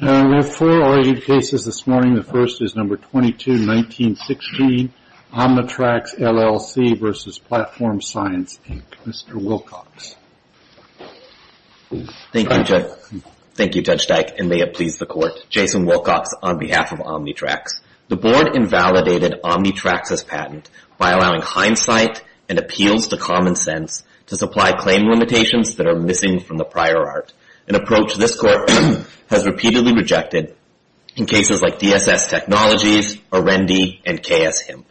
We have four argued cases this morning. The first is number 22, 1916, Omnitracs, LLC v. Platform Science, Inc., Mr. Wilcox. Thank you, Judge Dyke, and may it please the Court. Jason Wilcox on behalf of Omnitracs. The Board invalidated Omnitracs' patent by allowing hindsight and appeals to common sense to supply claim limitations that are missing from the prior art. An approach this Court has repeatedly rejected in cases like DSS Technologies, Aurendi, and K.S. Hemp.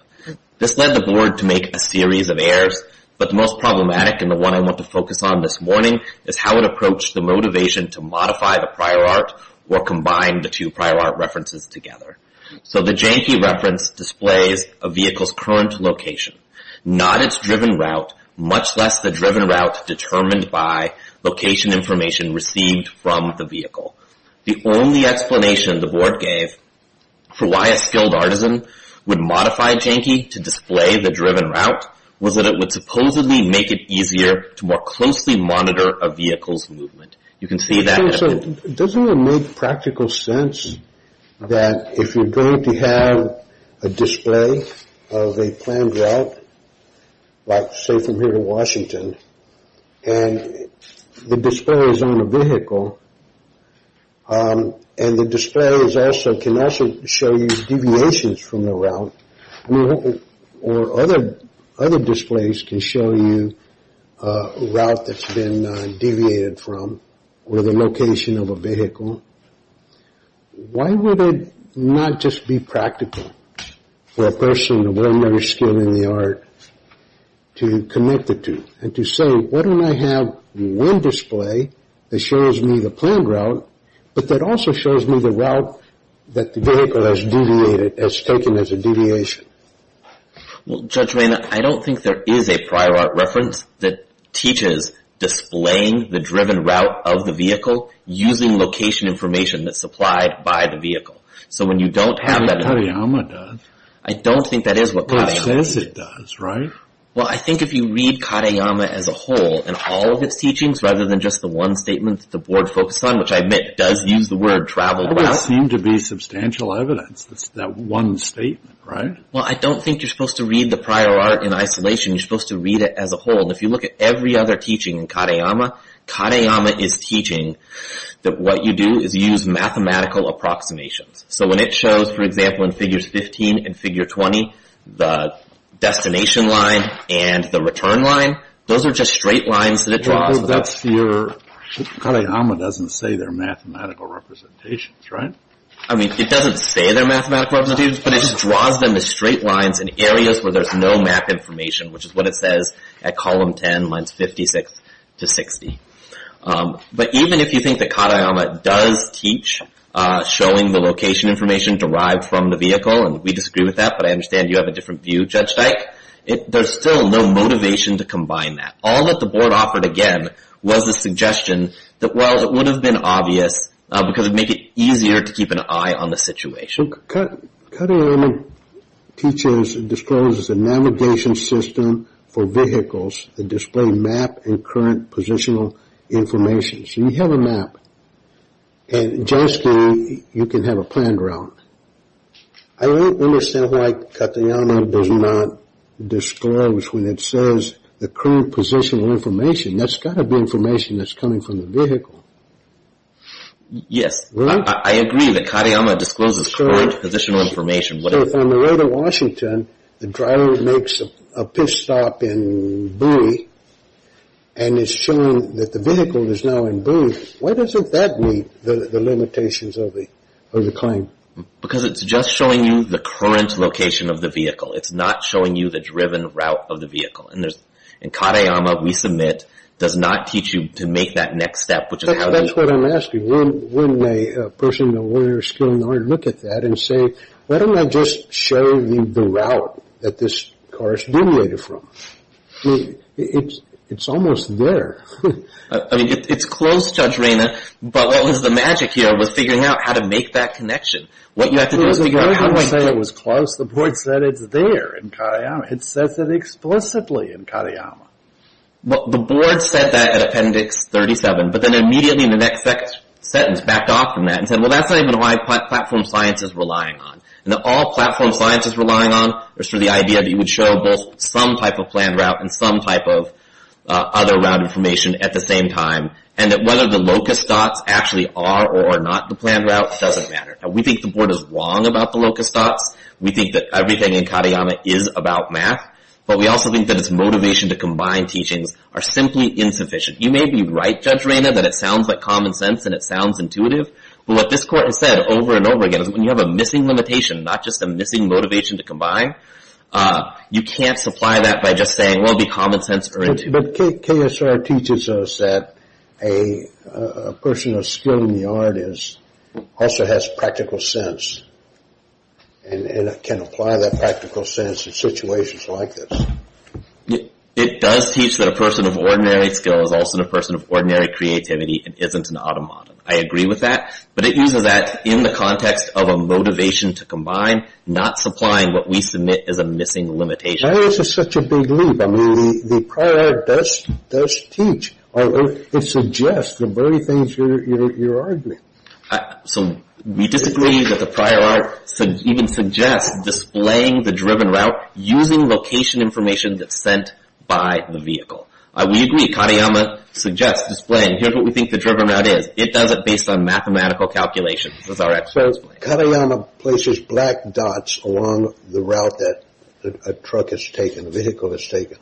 This led the Board to make a series of errors, but the most problematic and the one I want to focus on this morning is how it approached the motivation to modify the prior art or combine the two prior art references together. So the JANKE reference displays a vehicle's current location, not its driven route, much less the driven route determined by location information received from the vehicle. The only explanation the Board gave for why a skilled artisan would modify JANKE to display the driven route was that it would supposedly make it easier to more closely monitor a vehicle's movement. Doesn't it make practical sense that if you're going to have a display of a planned route, like say from here to Washington, and the display is on a vehicle, and the display can also show you deviations from the route, or other displays can show you a route that's been deviated from, or the location of a vehicle, why would it not just be practical for a person of any other skill in the art to connect the two and to say, why don't I have one display that shows me the planned route, but that also shows me the route that the vehicle has deviated, has taken as a deviation? Well, Judge Rayner, I don't think there is a prior art reference that teaches displaying the driven route of the vehicle using location information that's supplied by the vehicle. So when you don't have that... That's what Kadayama does. I don't think that is what Kadayama... Well, it says it does, right? Well, I think if you read Kadayama as a whole, and all of its teachings, rather than just the one statement that the board focused on, which I admit does use the word traveled route... That doesn't seem to be substantial evidence, that one statement, right? Well, I don't think you're supposed to read the prior art in isolation. You're supposed to read it as a whole. And if you look at every other teaching in Kadayama, Kadayama is teaching that what you do is use mathematical approximations. So when it shows, for example, in figures 15 and figure 20, the destination line and the return line, those are just straight lines that it draws. But that's your... Kadayama doesn't say they're mathematical representations, right? I mean, it doesn't say they're mathematical representations, but it just draws them as straight lines in areas where there's no map information, which is what it says at column 10, lines 56 to 60. But even if you think that Kadayama does teach showing the location information derived from the vehicle, and we disagree with that, but I understand you have a different view, Judge Dyke. There's still no motivation to combine that. All that the board offered, again, was the suggestion that, well, it would have been obvious because it would make it easier to keep an eye on the situation. So Kadayama teaches and discloses a navigation system for vehicles that display map and current positional information. So you have a map, and justly, you can have a planned route. I don't understand why Kadayama does not disclose when it says the current positional information. That's got to be information that's coming from the vehicle. Yes, I agree that Kadayama discloses current positional information. So if on the road to Washington, the driver makes a pit stop in Bowie, and it's showing that the vehicle is now in Bowie, why doesn't that meet the limitations of the claim? Because it's just showing you the current location of the vehicle. It's not showing you the driven route of the vehicle. And Kadayama, we submit, does not teach you to make that next step. That's what I'm asking. Wouldn't a person with a lawyer's skill and knowledge look at that and say, why don't I just show you the route that this car is generated from? I mean, it's almost there. I mean, it's close, Judge Rayner, but what was the magic here was figuring out how to make that connection. What you have to do is figure out how to make that connection. I didn't say it was close. The board said it's there in Kadayama. It says it explicitly in Kadayama. Well, the board said that in Appendix 37, but then immediately in the next sentence backed off from that and said, well, that's not even why platform science is relying on. All platform science is relying on is for the idea that you would show both some type of planned route and some type of other route information at the same time, and that whether the locus dots actually are or are not the planned route doesn't matter. We think the board is wrong about the locus dots. We think that everything in Kadayama is about math, but we also think that its motivation to combine teachings are simply insufficient. You may be right, Judge Rayner, that it sounds like common sense and it sounds intuitive, but what this court has said over and over again is when you have a missing limitation, not just a missing motivation to combine, you can't supply that by just saying, well, be common sense or intuitive. But KSR teaches us that a person of skill in the art also has practical sense and can apply that practical sense in situations like this. It does teach that a person of ordinary skill is also a person of ordinary creativity and isn't an automaton. I agree with that, but it uses that in the context of a motivation to combine, not supplying what we submit as a missing limitation. Why is this such a big leap? I mean, the prior art does teach. It suggests the very things you're arguing. So we disagree that the prior art even suggests displaying the driven route using location information that's sent by the vehicle. We agree. Kadayama suggests displaying. Here's what we think the driven route is. It does it based on mathematical calculation. That's our explanation. Kadayama places black dots along the route that a truck has taken, a vehicle has taken.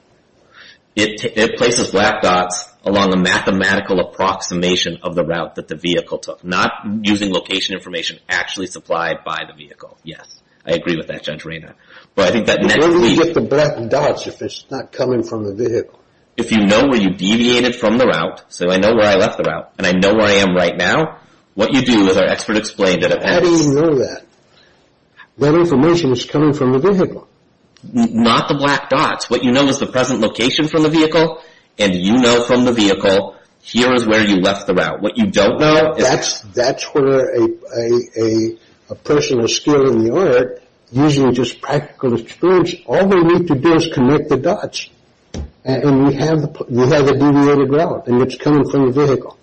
It places black dots along a mathematical approximation of the route that the vehicle took, not using location information actually supplied by the vehicle. Yes, I agree with that, Judge Raynor. But I think that next week... Where do you get the black dots if it's not coming from the vehicle? If you know where you deviated from the route, so I know where I left the route and I know where I am right now, what you do is our expert explained it. How do you know that? That information is coming from the vehicle. Not the black dots. What you know is the present location from the vehicle, and you know from the vehicle, here is where you left the route. What you don't know is... That's where a person of skill in the art, using just practical experience, all they need to do is connect the dots, and you have a deviated route, and it's coming from the vehicle.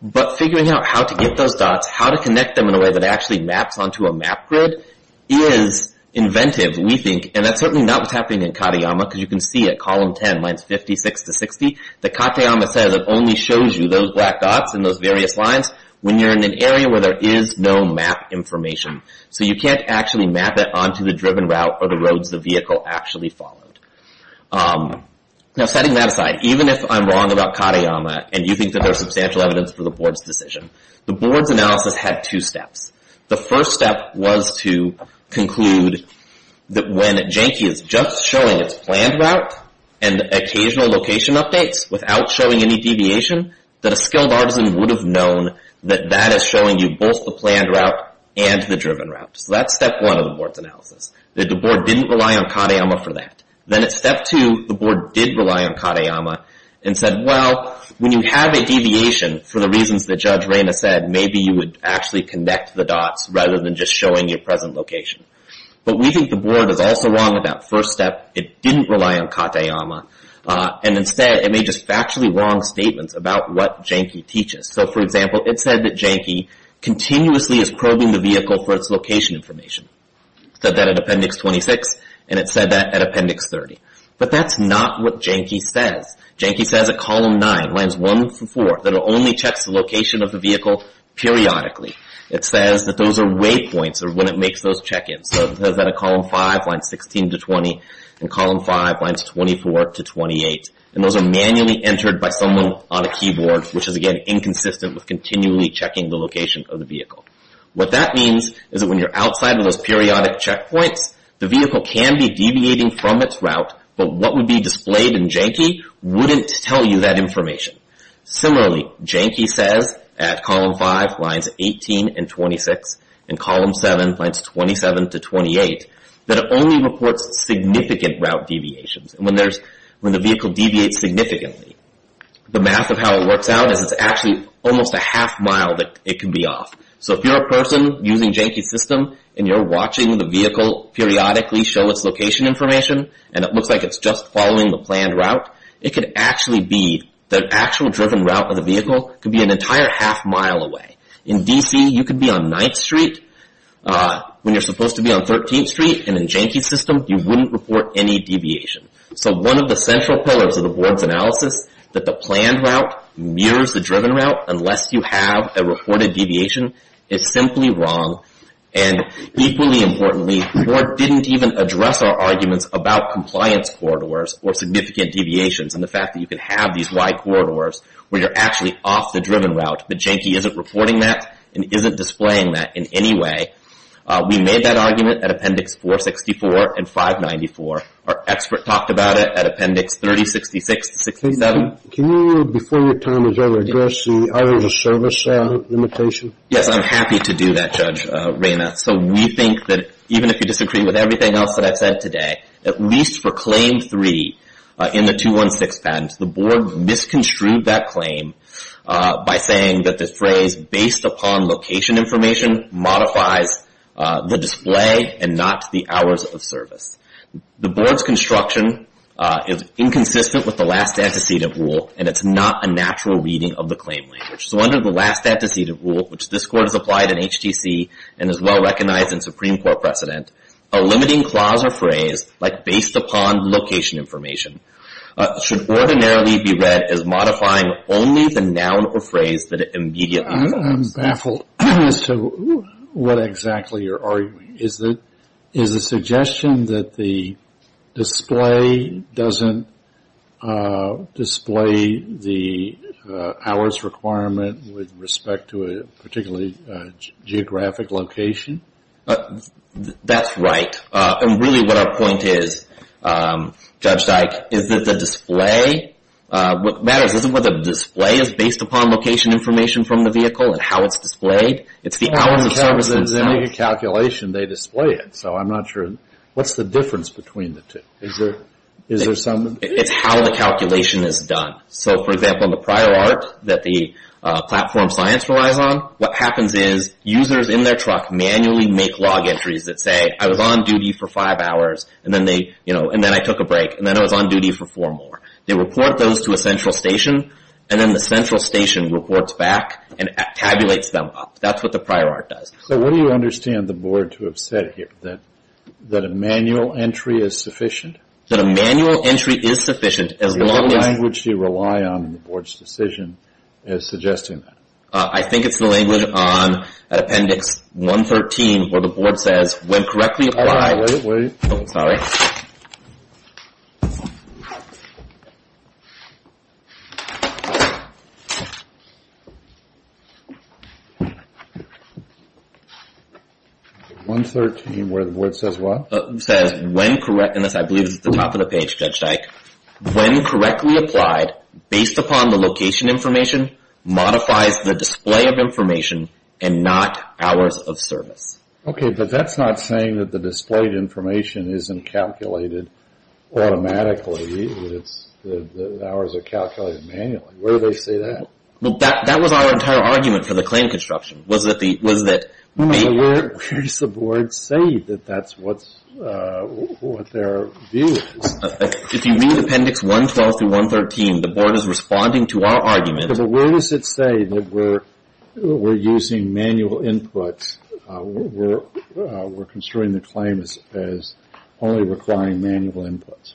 But figuring out how to get those dots, how to connect them in a way that actually maps onto a map grid, is inventive, we think. And that's certainly not what's happening in Katayama, because you can see it, column 10, lines 56 to 60, that Katayama says it only shows you those black dots and those various lines when you're in an area where there is no map information. So you can't actually map it onto the driven route or the roads the vehicle actually followed. Now, setting that aside, even if I'm wrong about Katayama, and you think that there is substantial evidence for the board's decision, the board's analysis had two steps. The first step was to conclude that when Janky is just showing its planned route and occasional location updates, without showing any deviation, that a skilled artisan would have known that that is showing you both the planned route and the driven route. That the board didn't rely on Katayama for that. Then at step two, the board did rely on Katayama and said, well, when you have a deviation, for the reasons that Judge Reyna said, maybe you would actually connect the dots rather than just showing your present location. But we think the board is also wrong in that first step. It didn't rely on Katayama, and instead, it made just factually wrong statements about what Janky teaches. So, for example, it said that Janky continuously is probing the vehicle for its location information. It said that at Appendix 26, and it said that at Appendix 30. But that's not what Janky says. Janky says at Column 9, Lines 1 through 4, that it only checks the location of the vehicle periodically. It says that those are waypoints, or when it makes those check-ins. So it says that at Column 5, Lines 16 to 20, and Column 5, Lines 24 to 28. And those are manually entered by someone on a keyboard, which is, again, inconsistent with continually checking the location of the vehicle. What that means is that when you're outside of those periodic checkpoints, the vehicle can be deviating from its route, but what would be displayed in Janky wouldn't tell you that information. Similarly, Janky says at Column 5, Lines 18 and 26, and Column 7, Lines 27 to 28, that it only reports significant route deviations. And when the vehicle deviates significantly, the math of how it works out is it's actually almost a half-mile that it can be off. So if you're a person using Janky's system, and you're watching the vehicle periodically show its location information, and it looks like it's just following the planned route, it could actually be the actual driven route of the vehicle could be an entire half-mile away. In D.C., you could be on 9th Street when you're supposed to be on 13th Street, and in Janky's system, you wouldn't report any deviation. So one of the central pillars of the Board's analysis, that the planned route mirrors the driven route, unless you have a reported deviation, is simply wrong. And equally importantly, the Board didn't even address our arguments about compliance corridors or significant deviations and the fact that you could have these wide corridors where you're actually off the driven route, but Janky isn't reporting that and isn't displaying that in any way. We made that argument at Appendix 464 and 594. Our expert talked about it at Appendix 3066-67. Can you, before your time, address the hours of service limitation? Yes, I'm happy to do that, Judge Reyna. So we think that even if you disagree with everything else that I've said today, at least for Claim 3 in the 216 patent, the Board misconstrued that claim by saying that the phrase based upon location information modifies the display and not the hours of service. The Board's construction is inconsistent with the last antecedent rule and it's not a natural reading of the claim language. So under the last antecedent rule, which this Court has applied in HTC and is well recognized in Supreme Court precedent, a limiting clause or phrase like based upon location information should ordinarily be read as modifying only the noun or phrase that it immediately refers to. I'm baffled as to what exactly you're arguing. Is the suggestion that the display doesn't display the hours requirement with respect to a particularly geographic location? That's right. And really what our point is, Judge Dyke, is that the display, what matters isn't whether the display is based upon location information from the vehicle and how it's displayed, it's the hours of service itself. When they make a calculation, they display it, so I'm not sure. What's the difference between the two? It's how the calculation is done. So, for example, in the prior art that the Platform Science relies on, what happens is users in their truck manually make log entries that say, I was on duty for five hours and then I took a break and then I was on duty for four more. They report those to a central station and then the central station reports back and tabulates them up. That's what the prior art does. So what do you understand the Board to have said here, that a manual entry is sufficient? That a manual entry is sufficient as long as… What language do you rely on in the Board's decision as suggesting that? I think it's the language on Appendix 113 where the Board says, Wait, wait, wait. Oh, sorry. 113 where the Board says what? It says, when correct, and I believe this is at the top of the page, Judge Dyke, when correctly applied, based upon the location information, Okay, but that's not saying that the displayed information isn't calculated automatically. The hours are calculated manually. Where do they say that? Well, that was our entire argument for the claim construction, was that… Where does the Board say that that's what their view is? If you read Appendix 112 through 113, the Board is responding to our argument… So where does it say that we're using manual inputs, we're construing the claim as only requiring manual inputs?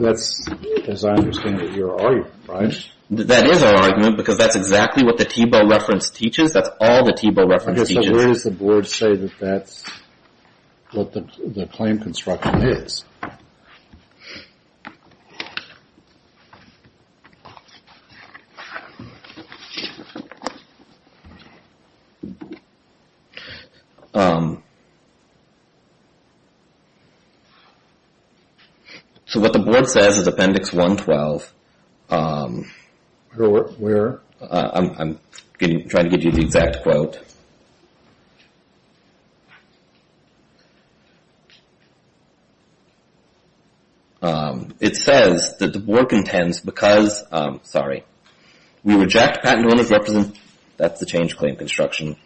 That's, as I understand it, your argument, right? That is our argument because that's exactly what the Thiebaud reference teaches. That's all the Thiebaud reference teaches. I guess where does the Board say that that's what the claim construction is? Okay. So what the Board says is Appendix 112… Where? I'm trying to give you the exact quote. Okay. It says that the Board contends because… Sorry. We reject patent owners represent… That's the change claim construction.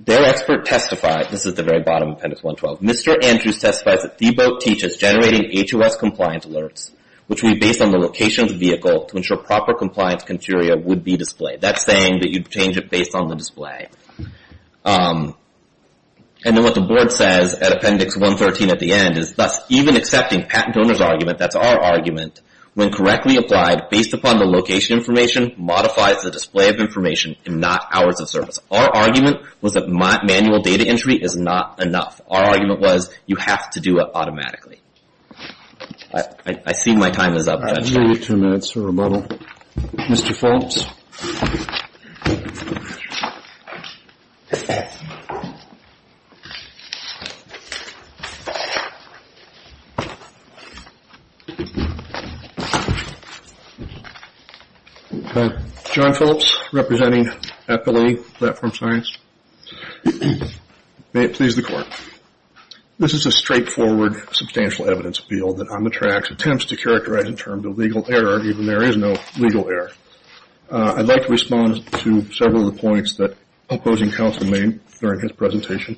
Their expert testified… This is the very bottom of Appendix 112. Mr. Andrews testifies that Thiebaud teaches generating HOS-compliant alerts, which we base on the location of the vehicle to ensure proper compliance criteria would be displayed. That's saying that you'd change it based on the display. And then what the Board says at Appendix 113 at the end is, thus even accepting patent owners' argument, that's our argument, when correctly applied based upon the location information modifies the display of information and not hours of service. Our argument was that manual data entry is not enough. Our argument was you have to do it automatically. I see my time is up. I'm going to give you two minutes for rebuttal. Mr. Phillips? John Phillips, representing Epilee Platform Science. May it please the Court. This is a straightforward substantial evidence appeal that on the tracks attempts to characterize in terms of legal error, even there is no legal error. I'd like to respond to several of the points that opposing counsel made during his presentation.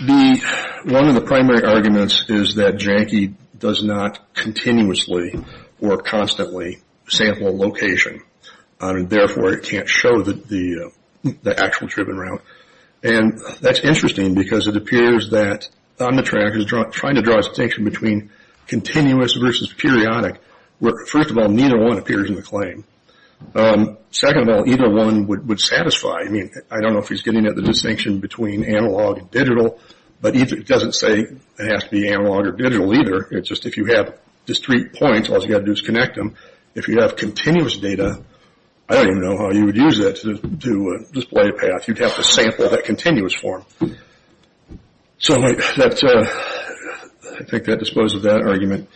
One of the primary arguments is that JANKE does not continuously or constantly sample location, and therefore it can't show the actual driven route. And that's interesting because it appears that on the track, JANKE is trying to draw a distinction between continuous versus periodic. First of all, neither one appears in the claim. Second of all, either one would satisfy. I mean, I don't know if he's getting at the distinction between analog and digital, but it doesn't say it has to be analog or digital either. It's just if you have discrete points, all you've got to do is connect them. If you have continuous data, I don't even know how you would use that to display a path. You'd have to sample that continuous form. So I think that disposes of that argument.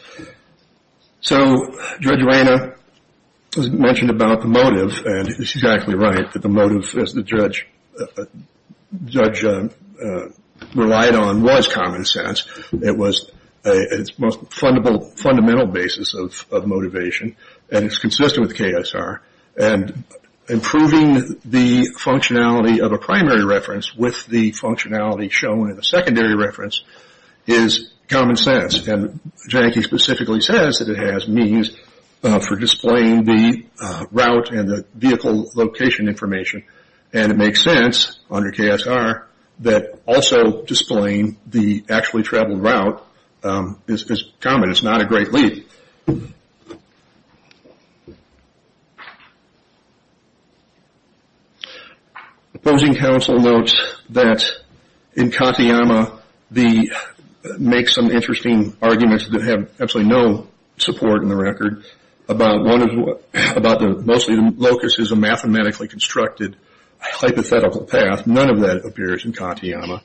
So Judge Reina mentioned about the motive, and she's actually right that the motive, as the judge relied on, was common sense. It was its most fundamental basis of motivation, and it's consistent with the KSR. And improving the functionality of a primary reference with the functionality shown in the secondary reference is common sense. And JANKE specifically says that it has means for displaying the route and the vehicle location information, and it makes sense under KSR that also displaying the actually traveled route is common. It's not a great leap. Opposing counsel notes that in Kantiyama, they make some interesting arguments that have absolutely no support in the record about mostly the locus is a mathematically constructed hypothetical path. None of that appears in Kantiyama.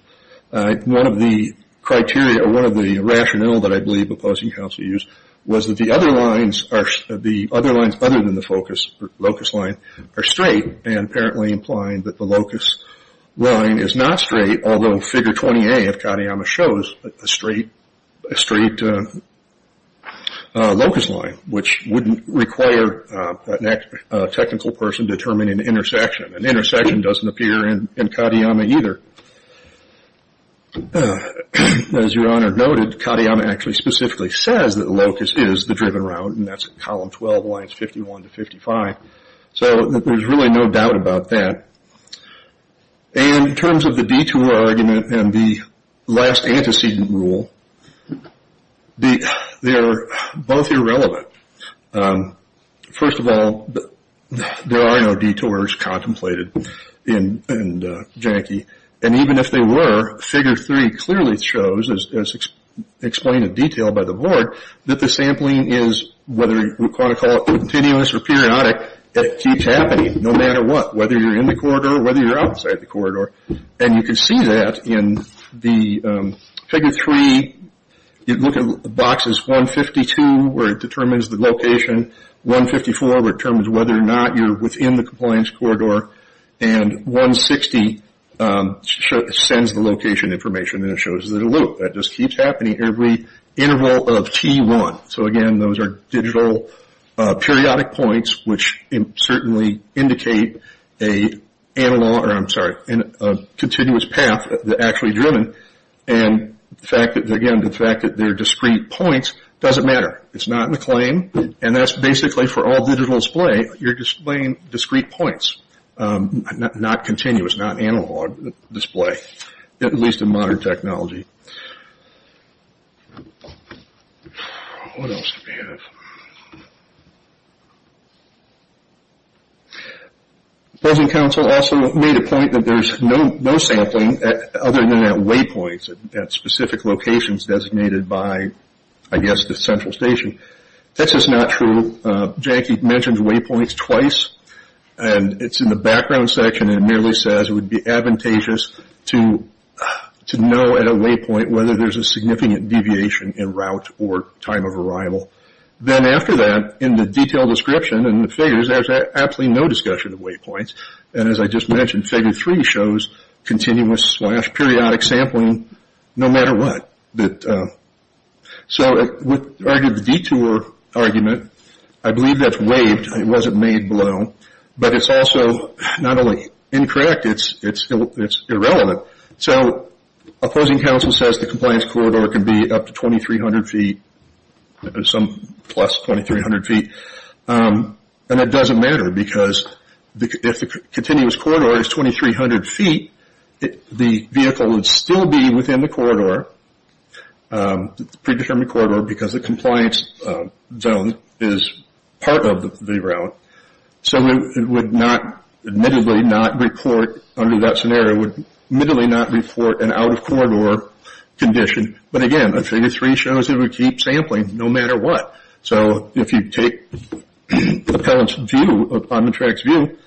One of the criteria or one of the rationale that I believe opposing counsel used was that the other lines other than the locus line are straight, and apparently implying that the locus line is not straight, although figure 20A of Kantiyama shows a straight locus line, which wouldn't require a technical person to determine an intersection. An intersection doesn't appear in Kantiyama either. As Your Honor noted, Kantiyama actually specifically says that the locus is the driven route, and that's column 12, lines 51 to 55. So there's really no doubt about that. And in terms of the detour argument and the last antecedent rule, they're both irrelevant. First of all, there are no detours contemplated in Janki. And even if they were, figure 3 clearly shows, as explained in detail by the board, that the sampling is, whether you want to call it continuous or periodic, it keeps happening no matter what, whether you're in the corridor or whether you're outside the corridor. And you can see that in the figure 3. You look at boxes 152 where it determines the location, 154 where it determines whether or not you're within the compliance corridor, and 160 sends the location information and it shows that it'll loop. That just keeps happening every interval of T1. So, again, those are digital periodic points, which certainly indicate a continuous path that's actually driven. And, again, the fact that they're discrete points doesn't matter. It's not in the claim, and that's basically for all digital display. You're displaying discrete points, not continuous, not analog display, at least in modern technology. What else do we have? Present counsel also made a point that there's no sampling, other than at waypoints at specific locations designated by, I guess, the central station. That's just not true. Jackie mentioned waypoints twice, and it's in the background section, and it merely says it would be advantageous to know at a waypoint whether there's a significant deviation in route or time of arrival. Then, after that, in the detailed description in the figures, there's absolutely no discussion of waypoints. And, as I just mentioned, figure three shows continuous-slash-periodic sampling no matter what. So, with regard to the detour argument, I believe that's waived. It wasn't made below. But it's also not only incorrect, it's irrelevant. So, opposing counsel says the compliance corridor can be up to 2,300 feet, some plus 2,300 feet, and that doesn't matter because if the continuous corridor is 2,300 feet, the vehicle would still be within the corridor, predetermined corridor, because the compliance zone is part of the route. So, it would not, admittedly, not report under that scenario, would admittedly not report an out-of-corridor condition. But, again, figure three shows it would keep sampling no matter what. So, if you take the appellant's view, on the track's view,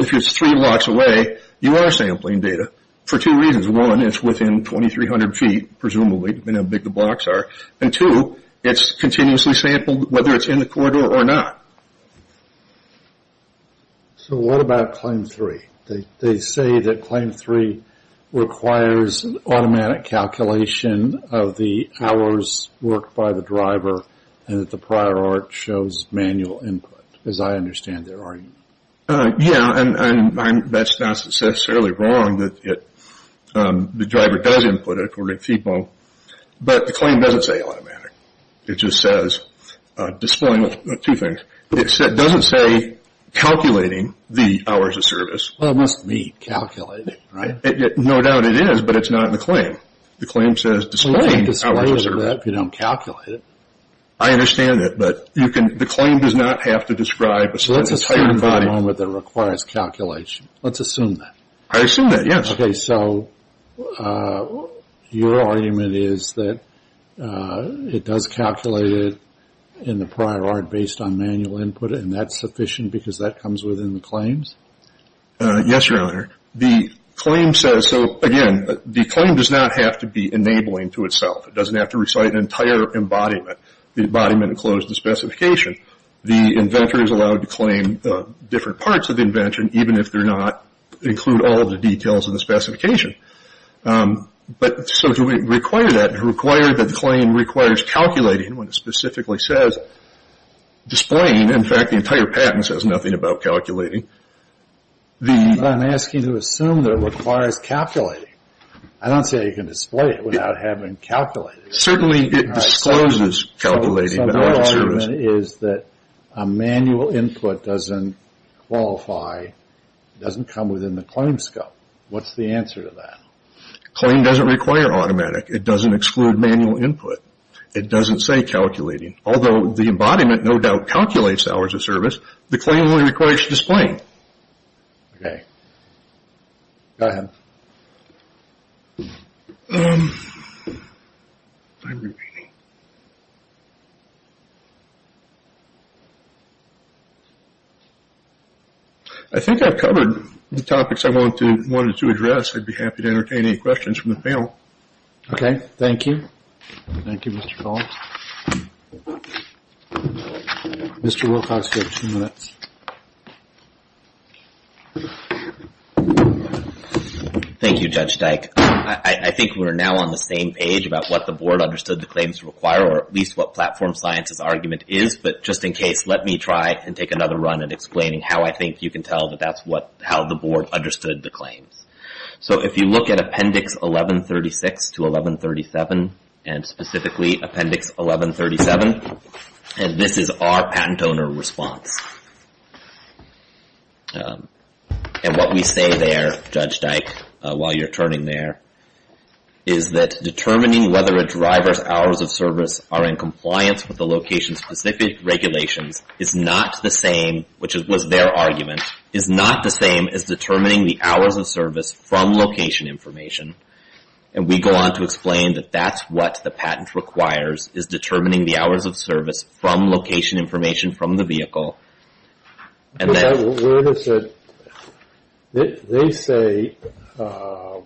if it's three blocks away, you are sampling data for two reasons. One, it's within 2,300 feet, presumably, depending on how big the blocks are. And, two, it's continuously sampled whether it's in the corridor or not. So, what about claim three? They say that claim three requires automatic calculation of the hours worked by the driver and that the prior art shows manual input, as I understand their argument. Yeah, and that's not necessarily wrong that the driver does input it according to FIPO, but the claim doesn't say automatic. It just says displaying two things. It doesn't say calculating the hours of service. Well, it must mean calculating, right? No doubt it is, but it's not in the claim. The claim says displaying hours of service. Well, you can't display that if you don't calculate it. I understand that, but the claim does not have to describe a certain volume. So, let's assume for the moment that it requires calculation. Let's assume that. I assume that, yes. Okay, so your argument is that it does calculate it in the prior art based on manual input, and that's sufficient because that comes within the claims? Yes, Your Honor. The claim says, so, again, the claim does not have to be enabling to itself. It doesn't have to recite an entire embodiment, the embodiment enclosed in the specification. Even if they're not, include all of the details of the specification. So, to require that, to require that the claim requires calculating when it specifically says displaying. In fact, the entire patent says nothing about calculating. I'm asking you to assume that it requires calculating. I don't see how you can display it without having calculated it. Certainly, it discloses calculating the hours of service. Your argument is that a manual input doesn't qualify, doesn't come within the claims scope. What's the answer to that? The claim doesn't require automatic. It doesn't exclude manual input. It doesn't say calculating. Although the embodiment, no doubt, calculates the hours of service, the claim only requires displaying. Okay. Go ahead. I think I've covered the topics I wanted to address. I'd be happy to entertain any questions from the panel. Okay. Thank you. Thank you, Mr. Collins. Mr. Wilcox, you have two minutes. Thank you, Judge Dyke. I think we're now on the same page about what the board understood the claims require, or at least what platform science's argument is. But just in case, let me try and take another run at explaining how I think you can tell that that's how the board understood the claims. So, if you look at Appendix 1136 to 1137, and specifically Appendix 1137, and this is our patent owner response. And what we say there, Judge Dyke, while you're turning there, is that determining whether a driver's hours of service are in compliance with the location-specific regulations is not the same, which was their argument, is not the same as determining the hours of service from location information. And we go on to explain that that's what the patent requires, is determining the hours of service from location information from the vehicle. Where is it? They say the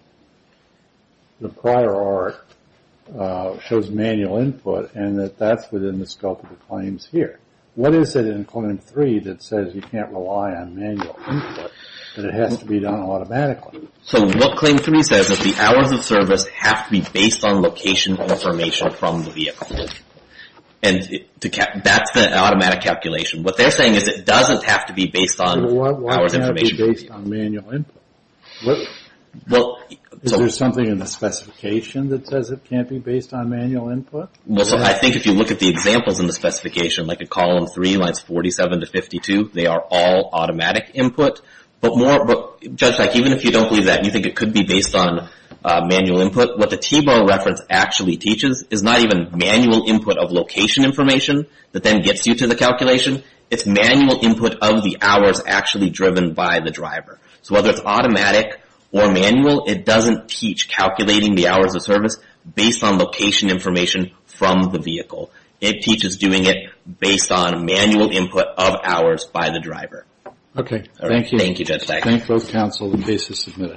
prior art shows manual input, and that that's within the scope of the claims here. What is it in Claim 3 that says you can't rely on manual input, that it has to be done automatically? So, what Claim 3 says is the hours of service have to be based on location information from the vehicle. And that's the automatic calculation. What they're saying is it doesn't have to be based on hours of information. Why can't it be based on manual input? Is there something in the specification that says it can't be based on manual input? Well, I think if you look at the examples in the specification, like in Column 3, lines 47 to 52, they are all automatic input. But Judge Teich, even if you don't believe that and you think it could be based on manual input, what the T-bar reference actually teaches is not even manual input of location information that then gets you to the calculation. It's manual input of the hours actually driven by the driver. So, whether it's automatic or manual, it doesn't teach calculating the hours of service based on location information from the vehicle. Okay, thank you. Thank you, Judge Teich. Thank both counsel. The case is submitted.